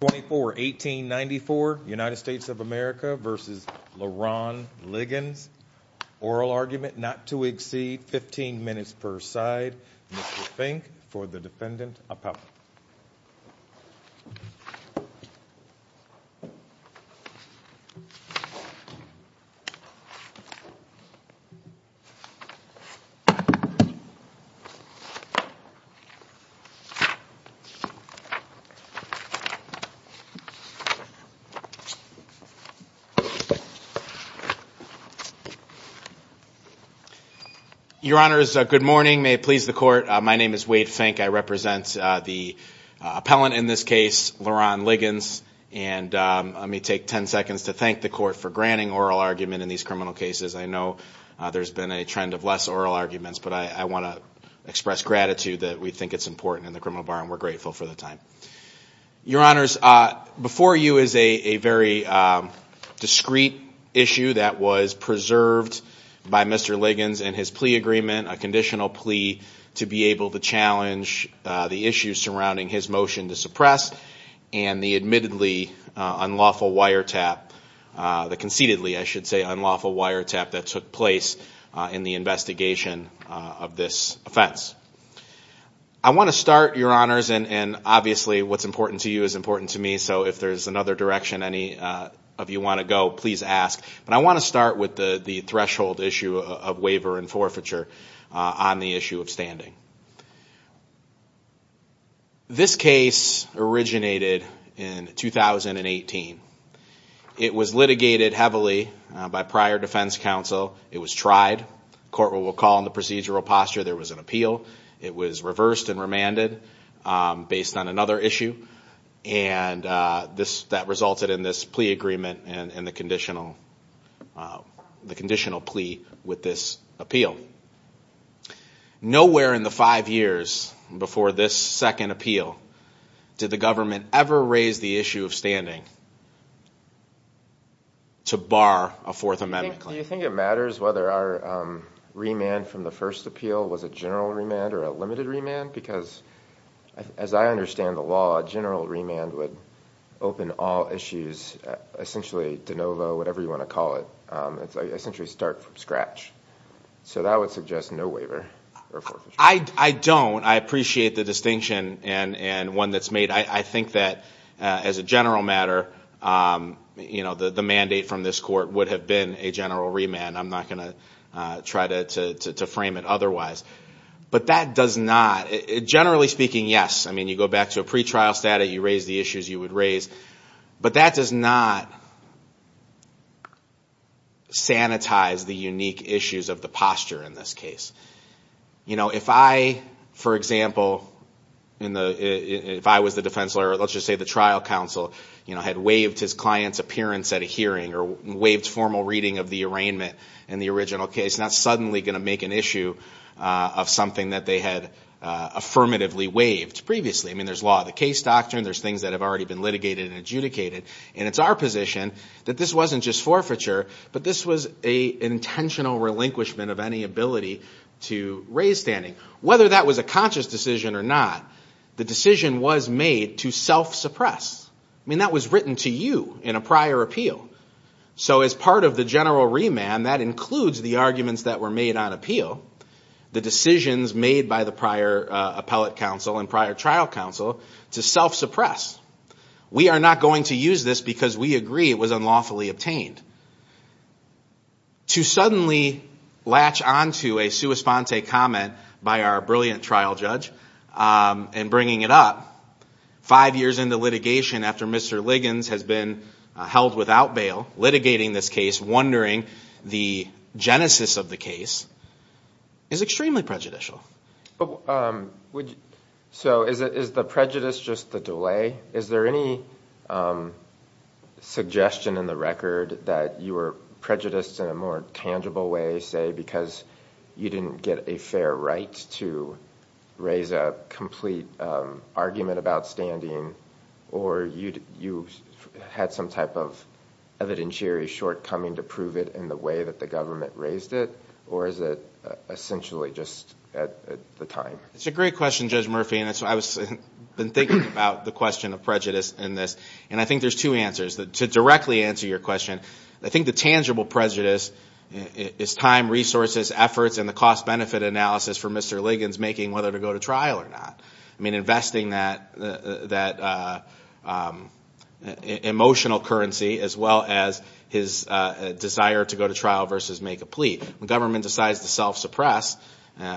24 1894 United States of America versus Leron Liggins. Oral argument not to exceed 15 minutes per side. Mr. Fink for the defendant. Your honors, good morning. May it please the court. My name is Wade Fink. I represent the appellant in this case, Leron Liggins. And let me take 10 seconds to thank the court for granting oral argument in these criminal cases. I know there's been a trend of less oral arguments, but I want to express gratitude that we think it's important in the criminal bar and we're grateful for the time. Your honors, before you is a very discreet issue that was preserved by Mr. Liggins and his plea agreement, a conditional plea to be able to challenge the issues surrounding his motion to suppress and the admittedly unlawful wire tap that concededly, I should say, unlawful wire tap that took place in the investigation of this offense. I want to start, your honors, and obviously what's important to you is important to me. So if there's another direction, any of you want to go, please ask. But I want to start with the threshold issue of waiver and forfeiture on the issue of standing. This case originated in 2018. It was litigated heavily by prior defense counsel. It was tried. The court will recall in the procedural posture there was an appeal. It was reversed and remanded based on another issue and that resulted in this plea agreement and the conditional plea with this appeal. Nowhere in the five years before this second appeal did the government ever raise the issue of standing to bar a Fourth Amendment claim. Do you think it matters whether our remand from the first appeal was a general remand or a limited remand? Because as I understand the law, a general remand would open all issues, essentially de novo, whatever you want to call it. It's essentially start from scratch. So that would suggest no waiver or forfeiture. I don't. I appreciate the distinction and one that's made. I think that as a general matter, the mandate from this court would have been a general remand. I'm not going to try to frame it otherwise. But that does not, generally speaking, yes. I mean you go back to a pretrial status, you raise the issues you would raise. But that does not sanitize the unique issues of the posture in this case. You know if I, for example, if I was the defense lawyer, let's just say the trial counsel had waived his client's appearance at a hearing or waived formal reading of the arraignment in the original case, not suddenly going to make an issue of something that they had affirmatively waived previously. I mean there's law of the case doctrine. There's things that have already been litigated and adjudicated. And it's our position that this wasn't just forfeiture, but this was an intentional relinquishment of any ability to raise standing. Whether that was a conscious decision or not, the decision was made to self-suppress. I mean that was written to you in a prior appeal. So as part of the general remand, that includes the arguments that were made on appeal, the decisions made by the prior appellate counsel and prior trial counsel, to self-suppress. We are not going to use this because we agree it was unlawfully obtained. To suddenly latch onto a sua sponte comment by our brilliant trial judge and bringing it up five years into litigation after Mr. Liggins has been held without bail, litigating this case, wondering the genesis of the case, is extremely prejudicial. So is the prejudice just the delay? Is there any suggestion in the record that you were prejudiced in a more tangible way, say, because you didn't get a fair right to raise a complete argument about standing? Or you had some type of evidentiary shortcoming to prove it in the way that the government raised it? Or is it essentially just at the time? It's a great question, Judge Murphy, and I've been thinking about the question of prejudice in this, and I think there's two answers. To directly answer your question, I think the tangible prejudice is time, resources, efforts, and the cost-benefit analysis for Mr. Liggins making whether to go to trial or not. I mean, investing that emotional currency as well as his desire to go to trial versus make a plea. The government decides to self-suppress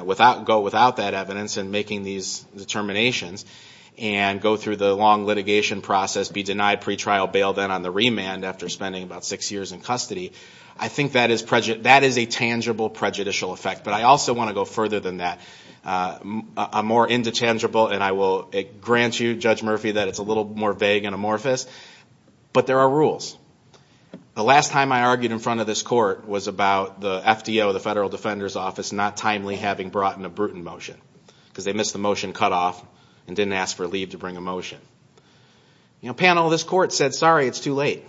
without that evidence and making these determinations, and go through the long litigation process, be denied pretrial bail, then on the remand after spending about six years in custody. I think that is a tangible prejudicial effect. But I also want to go further than that. I'm more into tangible, and I will grant you, Judge Murphy, that it's a little more vague and amorphous, but there are rules. The last time I argued in front of this court was about the FDO, the Federal Defender's Office, not timely having brought in a Bruton motion because they missed the motion cutoff and didn't ask for leave to bring a motion. You know, panel, this court said, sorry, it's too late.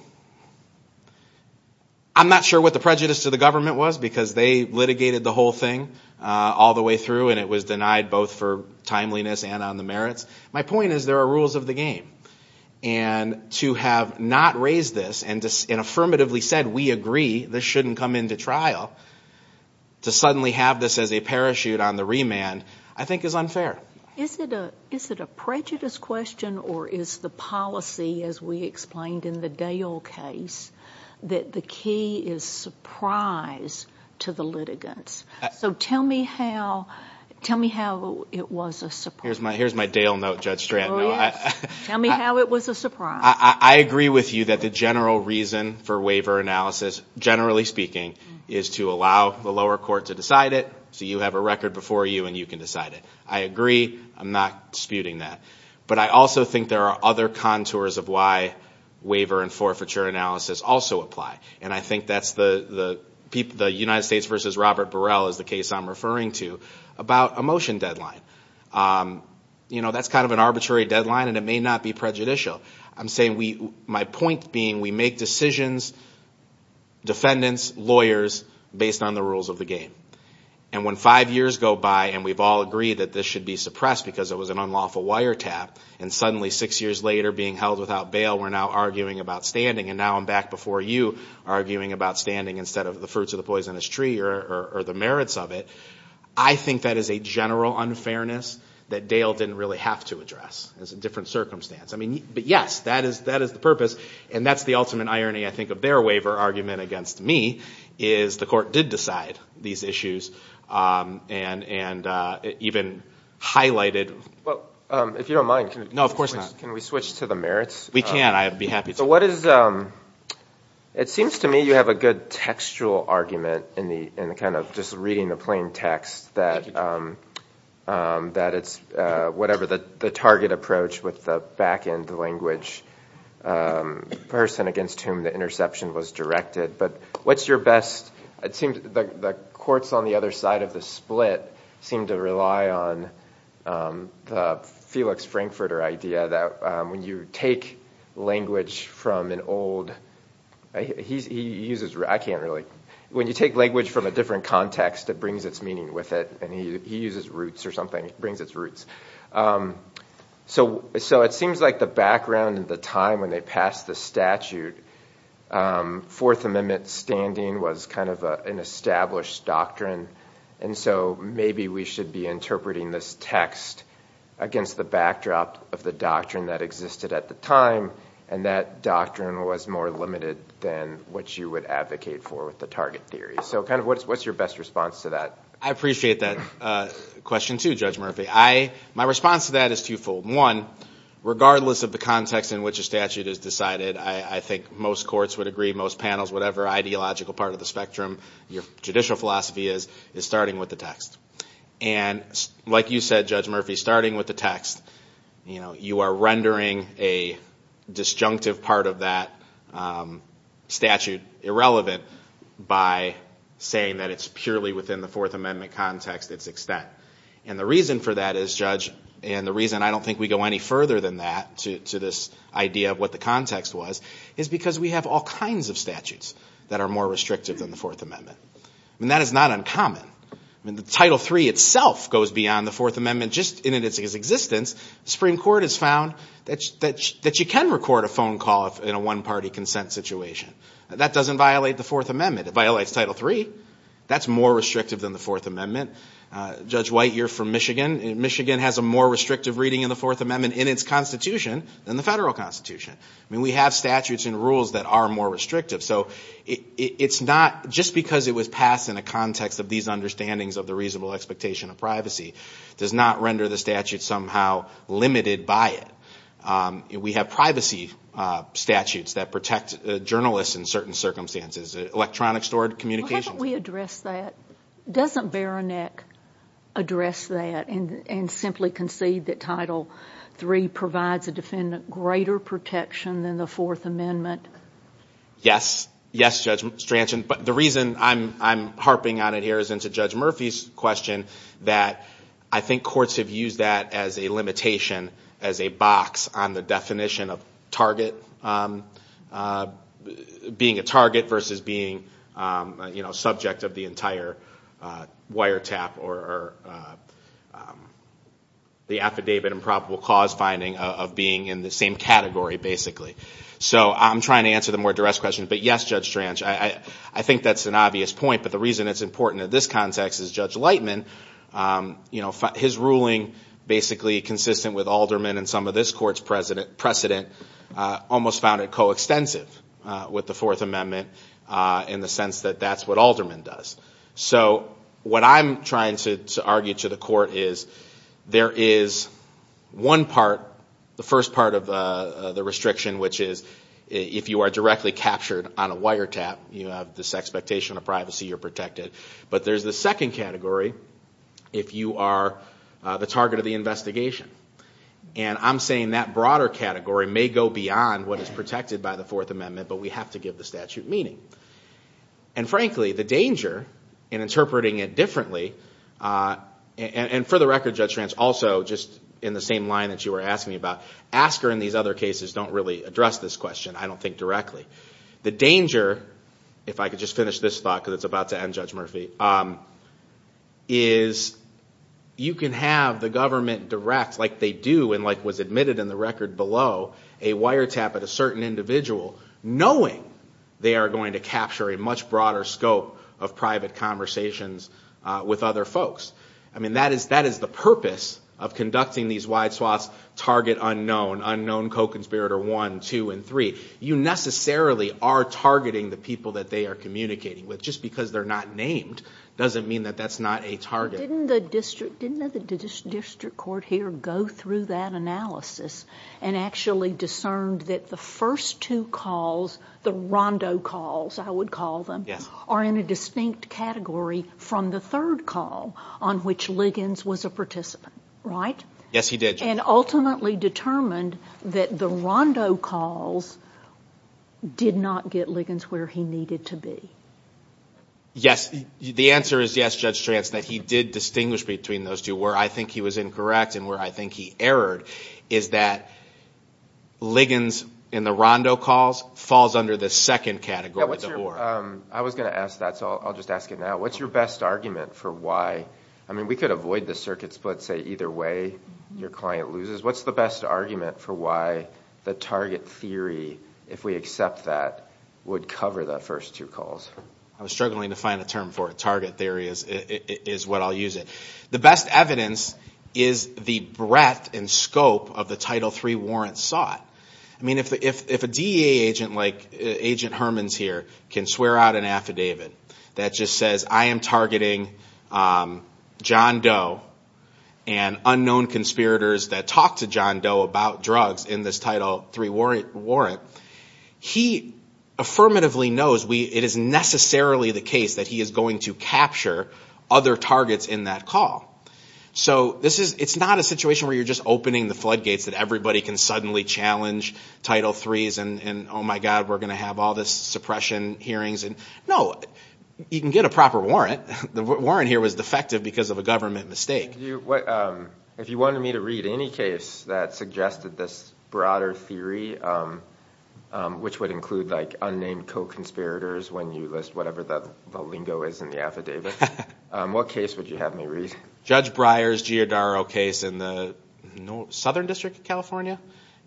I'm not sure what the prejudice to the government was because they litigated the whole thing all the way through, and it was denied both for timeliness and on the merits. My point is there are rules of the game, and to have not raised this and affirmatively said we agree this shouldn't come into trial, to suddenly have this as a parachute on the remand, I think is unfair. Is it a prejudice question, or is the policy, as we explained in the Dale case, that the key is surprise to the litigants? So tell me how it was a surprise. Here's my Dale note, Judge Stratton. Tell me how it was a surprise. I agree with you that the general reason for waiver analysis, generally speaking, is to allow the lower court to decide it so you have a record before you and you can decide it. I agree. I'm not disputing that. But I also think there are other contours of why waiver and forfeiture analysis also apply, and I think that's the United States versus Robert Burrell is the case I'm referring to about a motion deadline. You know, that's kind of an arbitrary deadline and it may not be prejudicial. I'm saying my point being we make decisions, defendants, lawyers, based on the rules of the game. And when five years go by and we've all agreed that this should be suppressed because it was an unlawful wire tap, and suddenly six years later being held without bail we're now arguing about standing and now I'm back before you arguing about standing instead of the fruits of the poisonous tree or the merits of it, I think that is a general unfairness that Dale didn't really have to address. It's a different circumstance. But yes, that is the purpose, and that's the ultimate irony, I think, of their waiver argument against me, is the court did decide these issues and even highlighted them. Well, if you don't mind, can we switch to the merits? We can. I'd be happy to. It seems to me you have a good textual argument in the kind of just reading the plain text that it's whatever the target approach with the back end language person against whom the interception was directed, but what's your best, it seems the courts on the other side of the split seem to rely on the Felix Frankfurter idea that when you take language from an old, he uses, I can't really, when you take language from a different context it brings its meaning with it, and he uses roots or something, it brings its roots. So it seems like the background and the time when they passed the statute, Fourth Amendment standing was kind of an established doctrine, and so maybe we should be interpreting this text against the backdrop of the doctrine that existed at the time, and that doctrine was more limited than what you would advocate for with the target theory. So kind of what's your best response to that? I appreciate that question, too, Judge Murphy. My response to that is twofold. One, regardless of the context in which a statute is decided, I think most courts would agree, most panels, whatever ideological part of the spectrum your judicial philosophy is, is starting with the text. And like you said, Judge Murphy, starting with the text, you are rendering a disjunctive part of that statute irrelevant by saying that it's not relevant, and that it's purely within the Fourth Amendment context, its extent. And the reason for that is, Judge, and the reason I don't think we go any further than that to this idea of what the context was, is because we have all kinds of statutes that are more restrictive than the Fourth Amendment. I mean, that is not uncommon. I mean, the Title III itself goes beyond the Fourth Amendment just in its existence. The Supreme Court has found that you can record a phone call in a one-party consent situation. That doesn't violate the Fourth Amendment. It violates Title III. That's more restrictive than the Fourth Amendment. Judge White, you're from Michigan. Michigan has a more restrictive reading of the Fourth Amendment in its constitution than the federal constitution. I mean, we have statutes and rules that are more restrictive. So it's not, just because it was passed in a context of these understandings of the reasonable expectation of privacy, does not render the statute somehow limited by it. We have privacy statutes that protect journalists in certain circumstances, electronic stored communications. Well, how about we address that? Doesn't Baronek address that and simply concede that Title III provides a defendant greater protection than the Fourth Amendment? Yes. Yes, Judge Stranson. But the reason I'm harping on it here is into Judge Murphy's question that I think courts have used that as a limitation, as a box on the definition of target, being a target versus being subject of the entire wiretap or the affidavit and probable cause finding of being in the same category, basically. So I'm trying to answer the more duress question. But yes, Judge Tranch, I think that's an obvious point. But the reason it's important in this context is Judge Lightman, his ruling basically consistent with Alderman and some of this court's precedent, almost found it coextensive with the Fourth Amendment in the sense that that's what Alderman does. So what I'm trying to argue to the court is there is one part, the first part of the restriction, which is if you are directly captured on a wiretap, you have this expectation of privacy, you're protected. But there's the second category if you are the target of the investigation. And I'm saying that broader category may go beyond what is protected by the Fourth Amendment, but we have to give the statute meaning. And frankly, the danger in interpreting it differently, and for the record, Judge Tranch, also just in the same line that you were asking me about, Asker and these other cases don't really address this question, I don't think, directly. The danger, if I could just finish this thought because it's about to end, Judge Murphy, is you can have the government direct, like they do and like was admitted in the record below, a wiretap at a certain individual, knowing they are going to capture a much broader scope of private conversations with other folks. I mean, that is the purpose of conducting these wide swaths, target unknown, unknown co-conspirator one, two, and three. You necessarily are targeting the people that they are communicating with. Just because they are not named doesn't mean that that's not a target. Didn't the district court here go through that analysis and actually discerned that the first two calls, the rondo calls, I would call them, are in a distinct category from the third call on which Liggins was a participant, right? Yes, he did. And ultimately determined that the rondo calls did not get Liggins where he needed to be. Yes, the answer is yes, Judge Strantz, that he did distinguish between those two. Where I think he was incorrect and where I think he erred is that Liggins in the rondo calls falls under the second category. I was going to ask that, so I'll just ask it now. What's your best argument for why, I mean we could avoid the circuit split, say either way your client loses. What's the best I was struggling to find a term for it. Target theory is what I'll use it. The best evidence is the breadth and scope of the Title III warrant sought. I mean if a DEA agent like Agent Hermans here can swear out an affidavit that just says I am targeting John Doe and unknown conspirators that talk to John Doe about drugs in this Title III warrant, he affirmatively knows it is necessarily the case that he is going to capture other targets in that call. So it's not a situation where you're just opening the floodgates that everybody can suddenly challenge Title III's and oh my God, we're going to have all this suppression hearings. No, you can get a proper warrant. The warrant here was defective because of a government mistake. If you wanted me to read any case that suggested this broader theory, which would include unnamed co-conspirators when you list whatever the lingo is in the affidavit, what case would you have me read? Judge Breyer's Giordaro case in the Southern District of California.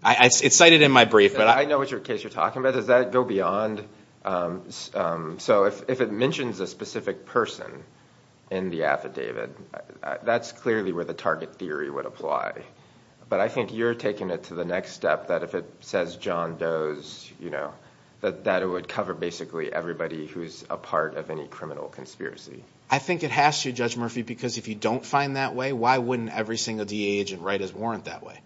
It's cited in my brief. I know what case you're talking about. Does that go beyond? So if it mentions a specific person in the affidavit, that's clearly where the target theory would apply. But I think you're taking it to the next step that if it says John Doe's, that it would cover basically everybody who's a part of any criminal conspiracy. I think it has to, Judge Murphy, because if you don't find that way, why wouldn't every single DA agent write his warrant that way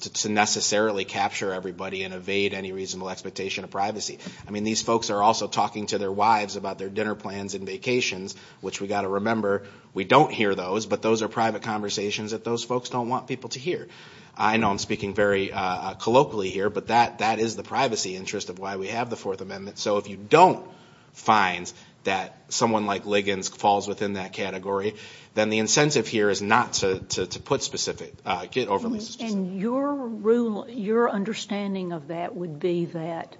to necessarily capture everybody and evade any reasonable expectation of privacy? I mean, these folks are also talking to their wives about their dinner plans and vacations, which we've got to remember, we don't hear those, but those are private conversations that those folks don't want people to hear. I know I'm speaking very colloquially here, but that is the privacy interest of why we have the Fourth Amendment. So if you don't find that someone like Liggins falls within that category, then the incentive here is not to put specific overlays. And your understanding of that would be that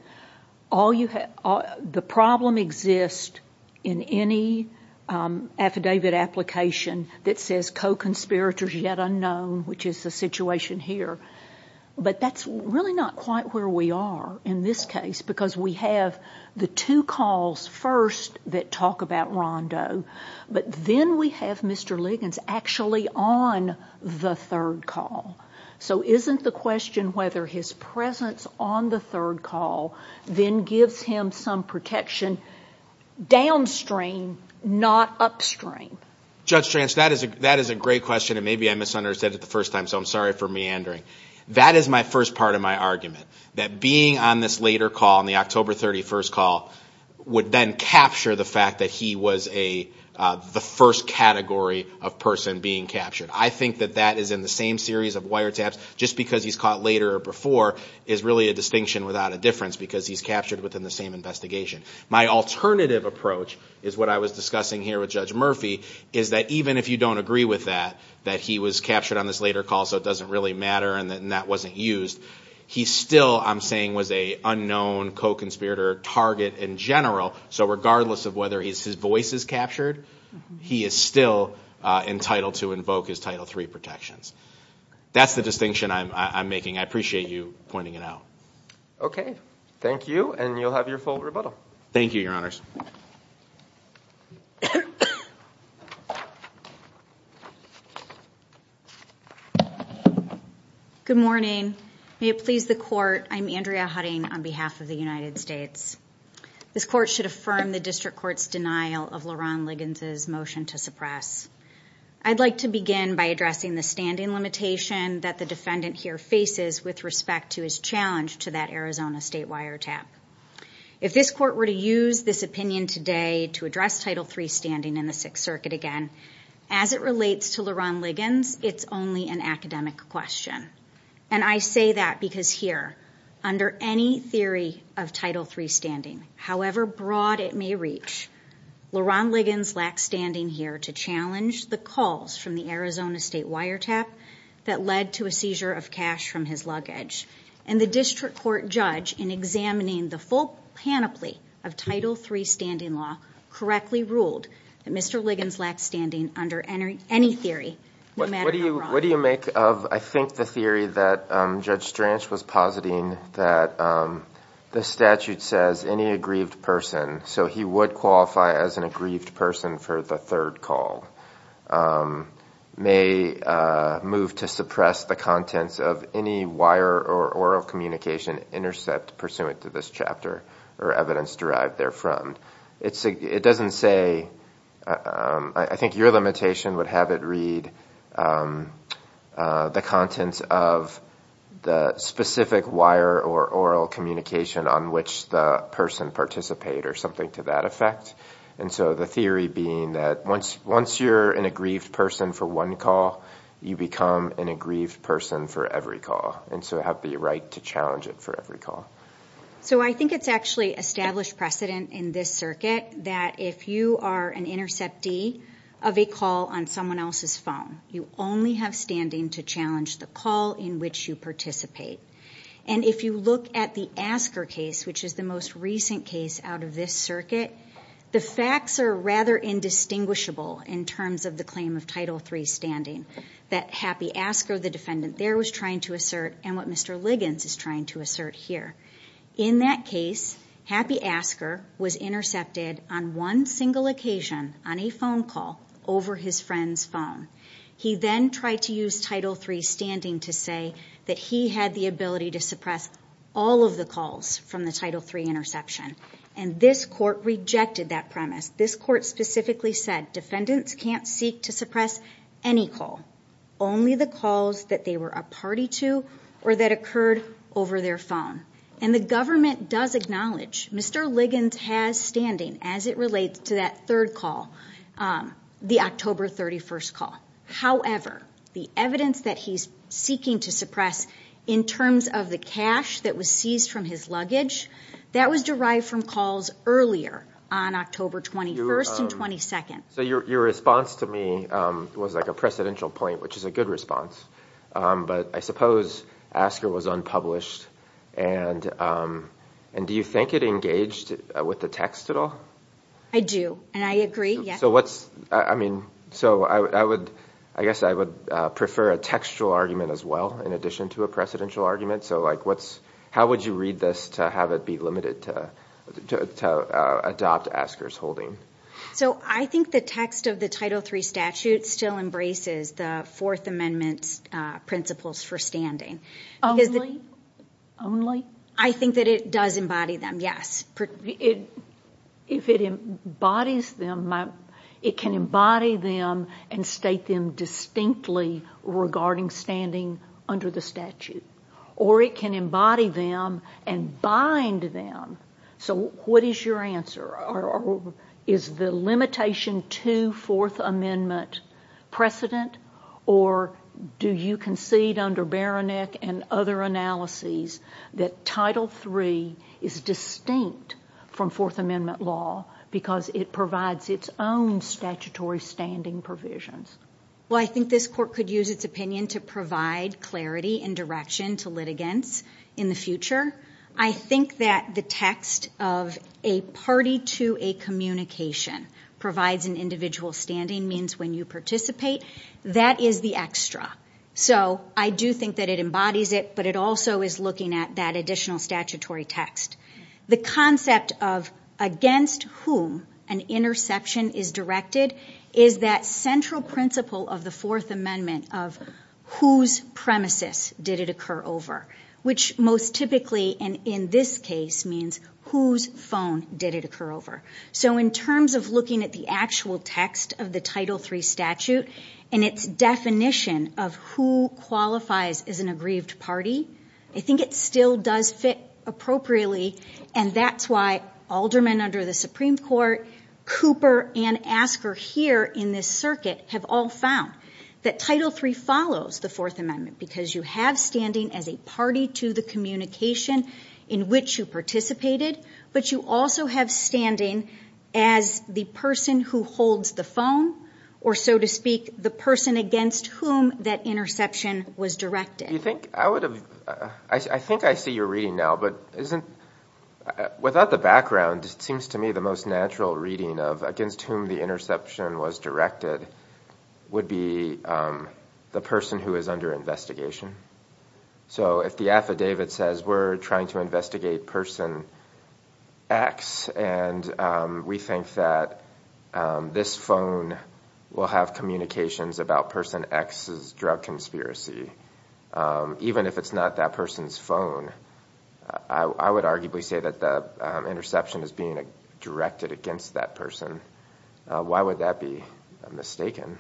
the problem exists in any affidavit application that says co-conspirators yet unknown, which is the situation here, but that's really not quite where we are in this case because we have the two calls first that talk about Rondo, but then we have Mr. Liggins actually on the third call. So isn't the question whether his presence on the third call then gives him some protection downstream, not upstream? Judge Trance, that is a great question, and maybe I misunderstood it the first time, so I'm sorry for meandering. That is my first part of my argument, that being on this later call, on the October 31st call, would then capture the fact that he was the first category of person being captured. I think that that is in the same series of wiretaps. Just because he's caught later or before is really a distinction without a difference because he's captured within the same investigation. My alternative approach is what I was discussing here with Judge Murphy, is that even if you don't agree with that, that he was captured on this later call, so it doesn't really matter and that wasn't used, he still, I'm saying, was a unknown co-conspirator target in general. So regardless of whether his voice is captured, he is still entitled to invoke his Title III protections. That's the distinction I'm making. I appreciate you pointing it out. Okay. Thank you and you'll have your full rebuttal. Thank you, Your Honors. Good morning. May it please the Court, I'm Andrea Hutting on behalf of the United States. This Court should affirm the District Court's denial of Laron Liggins' motion to suppress. I'd like to begin by addressing the standing limitation that the defendant here faces with respect to his challenge to that Arizona State wiretap. If this Court were to use this opinion today to address Title III standing in the Sixth Circuit again, as it relates to Laron Liggins, it's only an academic question. And I say that because here, under any theory of Title III standing, however broad it may reach, Laron Liggins lacks standing here to challenge the calls from the Arizona State wiretap that led to a seizure of cash from his luggage. And the District Court judge, in examining the full panoply of Title III standing law, correctly ruled that Mr. Liggins lacked standing under any theory, no matter how broad. What do you make of, I think, the theory that Judge Stranch was positing that the statute says any aggrieved person, so he would qualify as an aggrieved person for the third call, may move to suppress the contents of any wire or oral communication intercept pursuant to this chapter or evidence derived therefrom. It doesn't say, I think your limitation would have it read the contents of the specific wire or oral communication on which the person participate or something to that effect. And so the theory being that once you're an aggrieved person for one call, you become an aggrieved person for every call, and so have the right to challenge it for every call. So I think it's actually established precedent in this circuit that if you are an interceptee of a call on someone else's phone, you only have standing to challenge the call in which you participate. And if you look at the Asker case, which is the most recent case out of this circuit, the facts are rather indistinguishable in terms of the claim of Title III standing. That happy Asker, the defendant there was trying to assert and what Mr. Liggins is trying to assert here. In that case, happy Asker was intercepted on one single occasion, on a phone call, over his friend's phone. He then tried to use Title III standing to say that he had the ability to suppress all of the calls from the Title III interception. And this court rejected that premise. This court specifically said, defendants can't seek to suppress any call, only the calls that they were a party to or that occurred over their phone. And the government does acknowledge Mr. Liggins has standing as it relates to that third call, the October 31st call. However, the evidence that he's seeking to suppress in terms of the cash that was seized from his luggage, that was derived from calls earlier on October 21st and 22nd. Your response to me was like a precedential point, which is a good response. But I suppose Asker was unpublished. And do you think it engaged with the text at all? I do. And I agree, yes. I guess I would prefer a textual argument as well, in addition to a precedential argument. How would you read this to have it be limited to adopt Asker's holding? I think the text of the Title III statute still embraces the Fourth Amendment's principles for standing. I think that it does embody them, yes. If it embodies them, it can embody them and state them distinctly regarding standing under the statute. Or it can embody them and bind them. So what is your answer? If it does embody them, is the limitation to Fourth Amendment precedent? Or do you concede under Baroneck and other analyses that Title III is distinct from Fourth Amendment law because it provides its own statutory standing provisions? Well, I think this Court could use its opinion to provide clarity and direction to litigants in the future. I think that the text of a party to a communication provides an individual standing means when you participate, that is the extra. So I do think that it embodies it, but it also is looking at that additional statutory text. The concept of against whom an interception is directed is that central principle of the statute, which most typically, and in this case, means whose phone did it occur over. So in terms of looking at the actual text of the Title III statute and its definition of who qualifies as an aggrieved party, I think it still does fit appropriately and that's why Alderman under the Supreme Court, Cooper, and Asker here in this circuit have all found that Title III follows the Fourth Amendment because you have standing as a party to the communication in which you participated, but you also have standing as the person who holds the phone, or so to speak, the person against whom that interception was directed. I think I see your reading now, but without the background, it seems to me the most natural reading of against whom the interception was directed would be the person who is under investigation. So if the affidavit says we're trying to investigate person X and we think that this phone will have communications about person X's drug conspiracy, even if it's not that person's phone, I would arguably say that the interception is being directed against that person. Why would that be mistaken?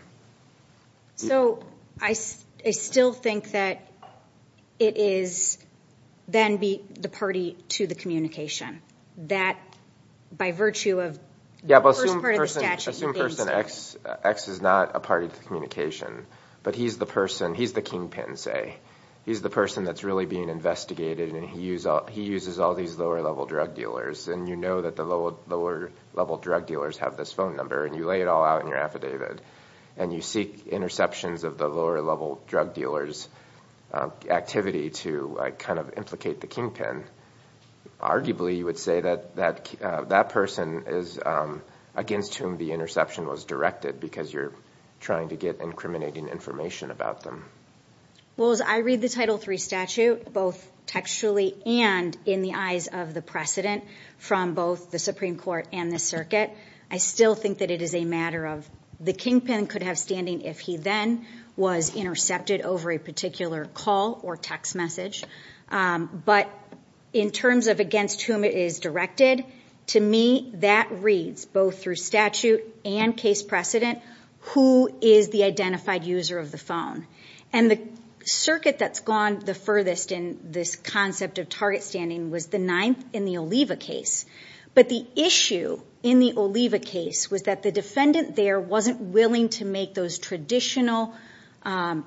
So I still think that it is then the party to the communication, that by virtue of the first part of the statute, you're being... Yeah, but assume person X is not a party to the communication, but he's the person, he's the kingpin, say. He's the person that's really being investigated and he uses all these lower-level drug dealers, and you know that the lower-level drug dealers have this phone number, and you lay it all out in your affidavit, and you seek interceptions of the lower-level drug dealers' activity to kind of implicate the kingpin. Arguably, you would say that that person is against whom the interception was directed because you're trying to get incriminating information about them. Well, as I read the Title III statute, both textually and in the eyes of the precedent from both the Supreme Court and the circuit, I still think that it is a matter of the kingpin could have standing if he then was intercepted over a particular call or text message. But in terms of against whom it is directed, to me, that reads both through statute and case precedent, who is the identified user of the phone. And the circuit that's gone the furthest in this concept of target standing was the ninth in the Oliva case. But the issue in the Oliva case was that the defendant there wasn't willing to make those traditional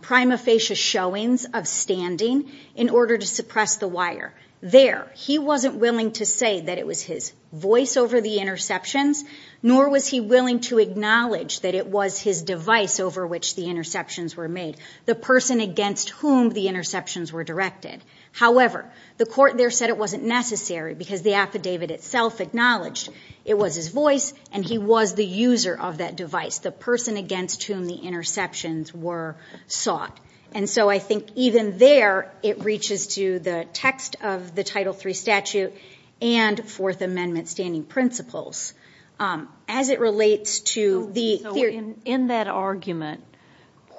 prima facie showings of standing in order to suppress the wire. There, he wasn't willing to say that it was his voice over the interceptions, nor was he willing to acknowledge that it was his device over which the interceptions were made, the person against whom the interceptions were directed. However, the court there said it wasn't necessary because the affidavit itself acknowledged it was his voice and he was the user of that device, the person against whom the interceptions were sought. And so I think even there, it reaches to the text of the Title III statute and Fourth Amendment standing principles. In that argument,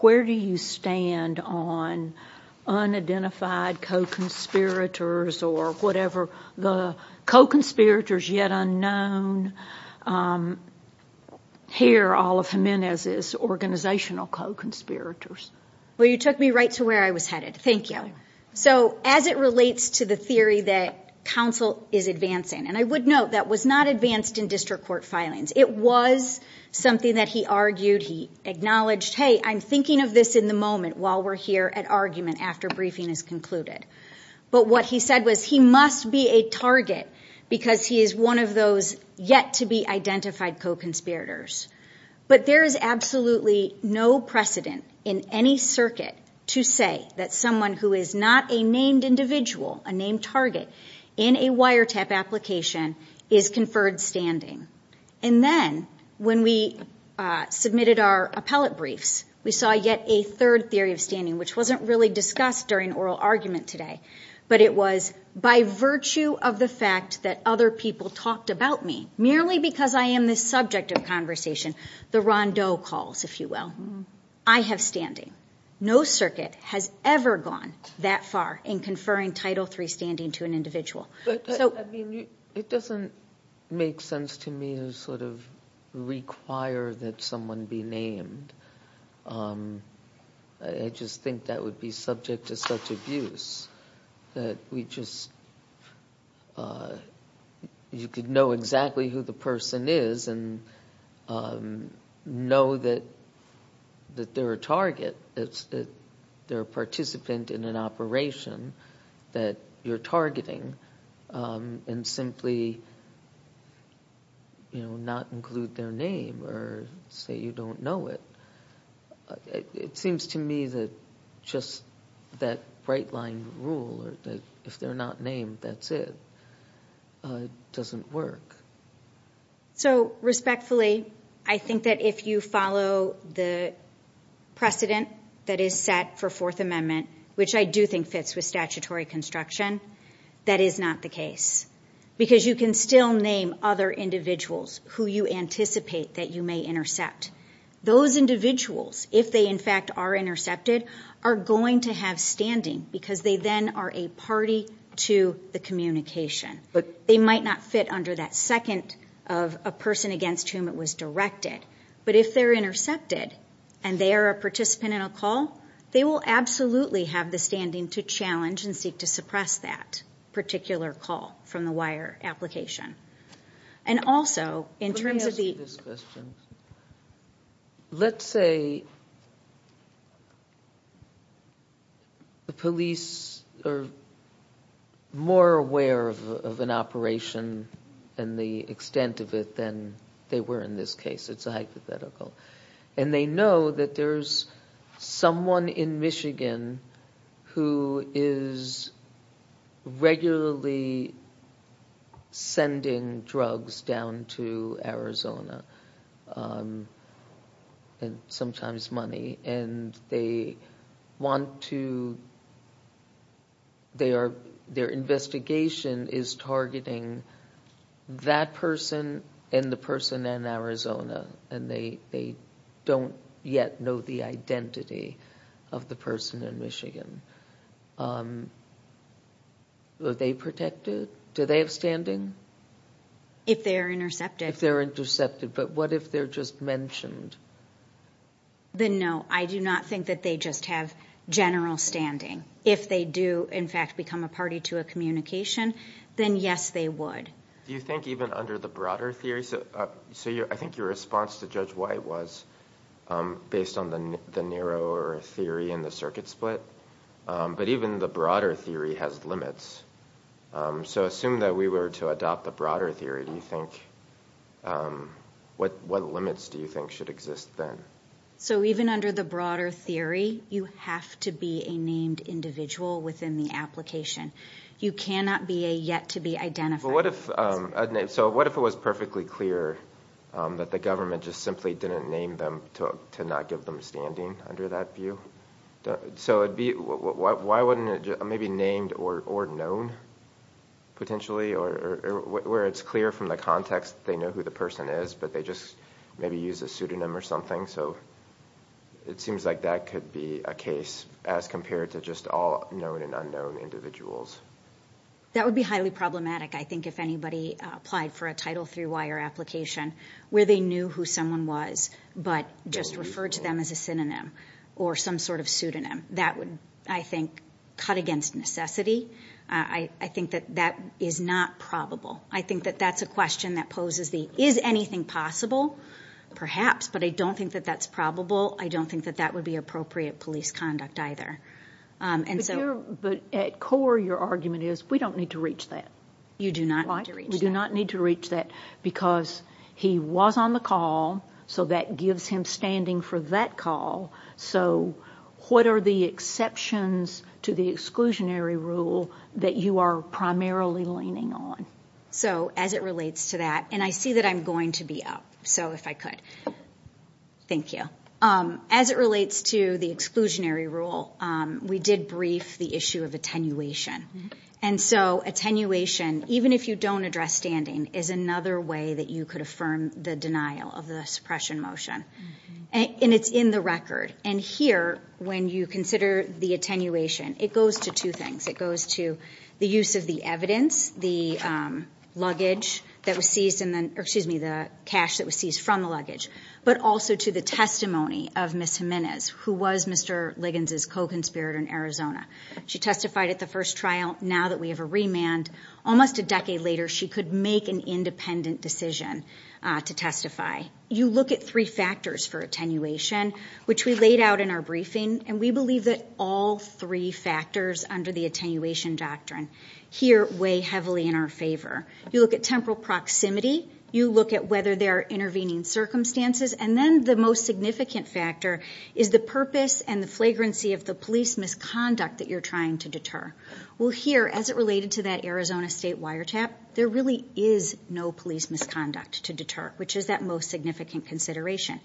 where do you stand on unidentified co-conspirators or whatever the co-conspirators yet unknown here, all of Jimenez's organizational co-conspirators? Well, you took me right to where I was headed. Thank you. So as it relates to the theory that counsel is advancing, and I would note that was not advanced in district court filings. It was something that he argued. He acknowledged, hey, I'm thinking of this in the moment while we're here at argument after briefing is concluded. But what he said was he must be a target because he is one of those yet to be identified co-conspirators. But there is absolutely no precedent in any circuit to say that someone who is not a named individual, a named target in a wiretap application is conferred standing. And then when we submitted our appellate briefs, we saw yet a third theory of standing, which wasn't really discussed during oral argument today, but it was by virtue of the fact that other people talked about me, merely because I am this subject of conversation. The Rondeau calls, if you will. I have standing. No circuit has ever gone that far in conferring Title III standing to an individual. But, I mean, it doesn't make sense to me to sort of require that someone be named. I just think that would be subject to such abuse that we just, you could know exactly who the person is, know that they're a target, that they're a participant in an operation that you're targeting, and simply, you know, not include their name or say you don't know it. It seems to me that just that bright line rule, that if they're not named, that's it, doesn't work. So, respectfully, I think that if you follow the precedent that is set for Fourth Amendment, which I do think fits with statutory construction, that is not the case. Because you can still name other individuals who you anticipate that you may intercept. Those individuals, if they in fact are intercepted, are going to have standing because they then are a party to the communication. They might not fit under that second of a person against whom it was directed. But if they're intercepted and they are a participant in a call, they will absolutely have the standing to challenge and seek to suppress that particular call from the wire application. And also, in terms of the... Let me ask you this question. Let's say a police or a police officer is a target and more aware of an operation and the extent of it than they were in this case. It's a hypothetical. And they know that there's someone in Michigan who is regularly sending drugs down to Arizona, and sometimes money, and they want to... They are, you know, they're investigation is targeting that person and the person in Arizona, and they don't yet know the identity of the person in Michigan. Are they protected? Do they have standing? If they're intercepted. If they're intercepted. But what if they're just mentioned? Then no, I do not think that they just have general standing. If they do in fact become a party to a communication, then yes, they would. Do you think even under the broader theory... So I think your response to Judge White was based on the narrower theory and the circuit split. But even the broader theory has limits. So assume that we were to adopt the broader theory, do you think... What limits do you think should exist then? So even under the broader theory, you have to be a named individual within the application. You cannot be a yet-to-be-identified... But what if... So what if it was perfectly clear that the government just simply didn't name them to not give them standing under that view? So it'd be... Why wouldn't it maybe named or known potentially, or where it's clear from the context they know who the person is, but they just maybe use a pseudonym or something? So it seems like that could be a case as compared to just all known and unknown individuals. That would be highly problematic, I think, if anybody applied for a Title III wire application where they knew who someone was, but just referred to them as a synonym or some sort of pseudonym. That would, I think, cut against necessity. I think that that is not probable. I think that that's a question that poses the... Is anything possible? Perhaps, but I don't think that that's probable. I don't think that that would be appropriate police conduct either. But at core, your argument is, we don't need to reach that. You do not need to reach that, because he was on the call, so that gives him standing for that call. So what are the exceptions to the exclusionary rule that you are primarily leaning on? So as it relates to that, and I see that I'm going to be up, so if I could. Thank you. As it relates to the exclusionary rule, we did brief the issue of attenuation. And so attenuation, even if you don't address standing, is another way that you could affirm the denial of the suppression motion. And it's in the record. And here, when you consider the attenuation, it goes to two things. It goes to the use of the evidence, the luggage that was seized in the... Excuse me, the cash that was seized from the luggage, but also to the testimony of Ms. Jimenez, who was Mr. Liggins' co-conspirator in Arizona. She testified at the first trial. Now that we have a remand, almost a decade later, she could make an independent decision to testify. You look at three factors for attenuation, which we laid out in our briefing, and we believe that all three factors under the attenuation doctrine here weigh heavily in our favor. You look at temporal proximity. You look at whether there are intervening circumstances. And then the most significant factor is the purpose and the flagrancy of the police misconduct that you're trying to deter. Well, here, as it related to that Arizona state wiretap, there really is no police misconduct to deter, which is that most significant consideration.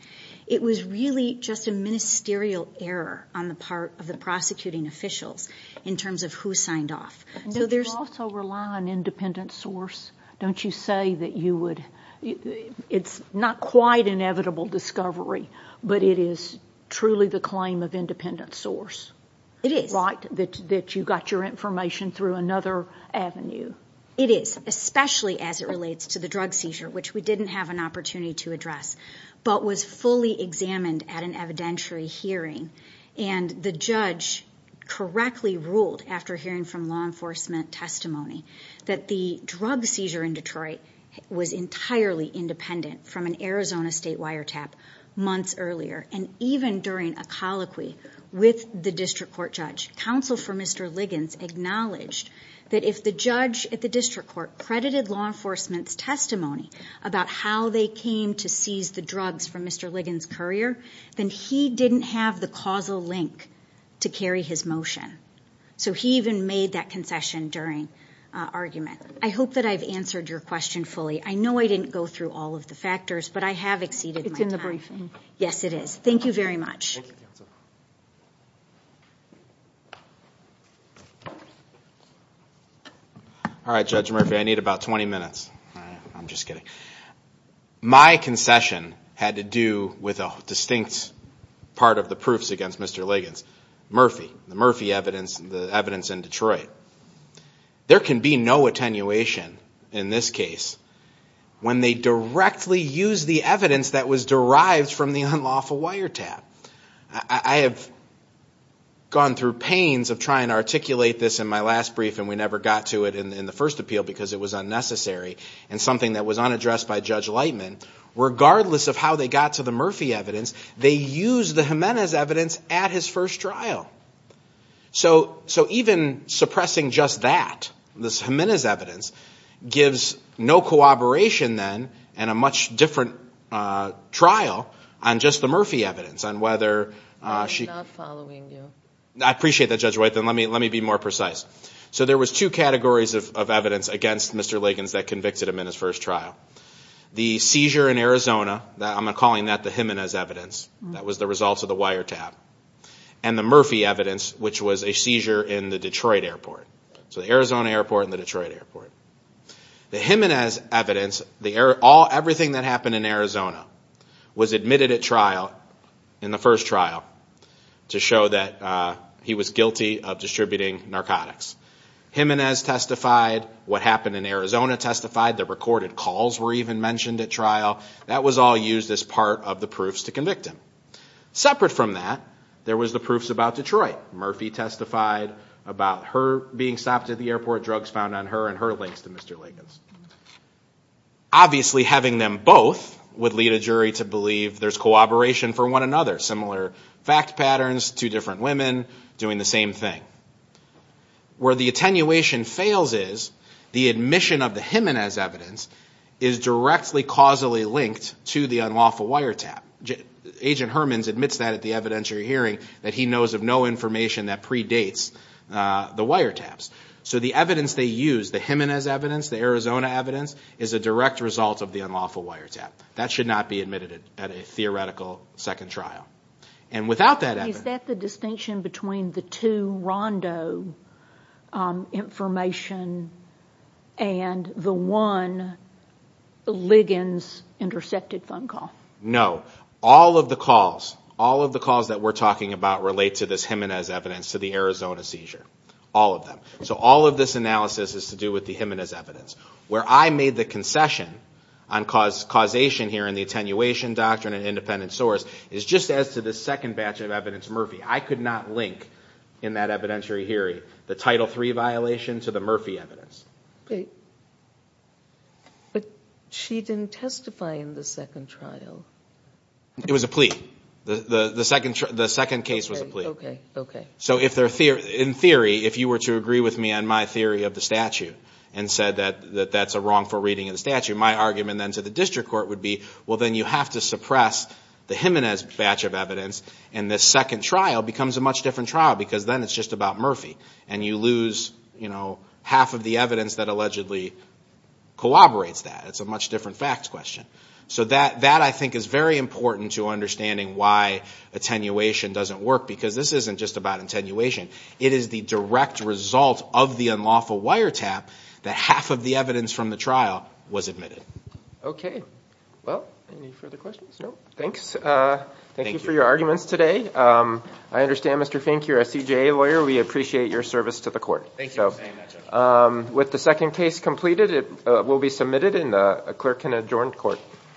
It was really just a ministerial error on the part of the prosecuting officials, in terms of who signed off. And don't you also rely on independent source? Don't you say that you would... It's not quite inevitable discovery, but it is truly the claim of independent source. It is. Right? That you got your information through another avenue. It is, especially as it relates to the drug seizure, which we didn't have an opportunity to address, but was fully examined at an evidentiary hearing. And the judge correctly ruled, after hearing from law enforcement testimony, that the drug seizure in Detroit was entirely independent from an Arizona state wiretap months earlier. And even during a colloquy with the district court judge, counsel for Mr. Liggins acknowledged that if the judge at the district court credited law enforcement's testimony about how they came to seize the drugs from Mr. Liggins' courier, then he didn't have the causal link to carry his motion. So he even made that concession during argument. I hope that I've answered your question fully. I know I didn't go through all of the factors, but I have exceeded my time. It's in the briefing. Yes, it is. Thank you very much. Thank you, counsel. All right, Judge Murphy, I need about 20 minutes. I'm just kidding. My concession had to do with a distinct part of the proofs against Mr. Liggins. Murphy, the Murphy evidence, the evidence in Detroit. There can be no attenuation in this case when they directly use the evidence that was derived from the unlawful wiretap. I have gone through pains of trying to articulate this in my last brief, and we never got to it in the first appeal because it was unnecessary and something that was unaddressed by Judge Lightman. Regardless of how they got to the Murphy evidence, they used the Jimenez evidence at his first trial. So even suppressing just that, this Jimenez evidence, gives no cooperation then in a much different trial on just the Murphy evidence. I'm not following you. I appreciate that, Judge White. Let me be more precise. So there was two categories of evidence against Mr. Liggins that convicted him in his first trial. The seizure in Arizona, I'm calling that the Jimenez evidence that was the result of the wiretap, and the Murphy evidence, which was a seizure in the Detroit airport. So the Arizona airport and the Detroit airport. The Jimenez evidence, everything that happened in Arizona was admitted at trial in the first trial to show that he was guilty of distributing narcotics. Jimenez testified, what happened in Arizona testified, the recorded calls were even mentioned at trial. That was all used as part of the proofs to convict him. Separate from that, there was the proofs about Detroit. Murphy testified about her being stopped at the airport, drugs found on her, and her links to Mr. Liggins. Obviously having them both would lead a jury to believe there's cooperation for one another. Similar fact patterns, two different women doing the same thing. Where the attenuation fails is, the admission of the Jimenez evidence is directly causally linked to the unlawful wiretap. Agent Hermans admits that at the evidentiary hearing, that he knows of no information that predates the wiretaps. So the evidence they use, the Jimenez evidence, the Arizona evidence, is a direct result of the unlawful wiretap. That should not be admitted at a theoretical second trial. And without that evidence... Is that the distinction between the two Rondo information and the one Liggins information intercepted phone call? No. All of the calls, all of the calls that we're talking about relate to this Jimenez evidence, to the Arizona seizure. All of them. So all of this analysis is to do with the Jimenez evidence. Where I made the concession on causation here in the attenuation doctrine and independent source is just as to the second batch of evidence Murphy. I could not link in that evidentiary hearing the Title III violation to the Murphy evidence. But she didn't testify in the second trial. It was a plea. The second case was a plea. So in theory, if you were to agree with me on my theory of the statute and said that that's a wrongful reading of the statute, my argument then to the district court would be well then you have to suppress the Jimenez batch of evidence and this second trial becomes a much different trial because then it's just about Murphy and you lose, you know, half of the evidence that allegedly corroborates that. It's a much different facts question. So that I think is very important to understanding why attenuation doesn't work because this isn't just about attenuation. It is the direct result of the unlawful wiretap that half of the evidence from the trial was admitted. Okay. Well, any further questions? No? Thanks. Thank you for your arguments today. I understand Mr. Fink, you're a CJA lawyer. We appreciate your service to the court. Thank you for saying that, Judge. With the second case completed, it will be submitted and a clerk can adjourn court.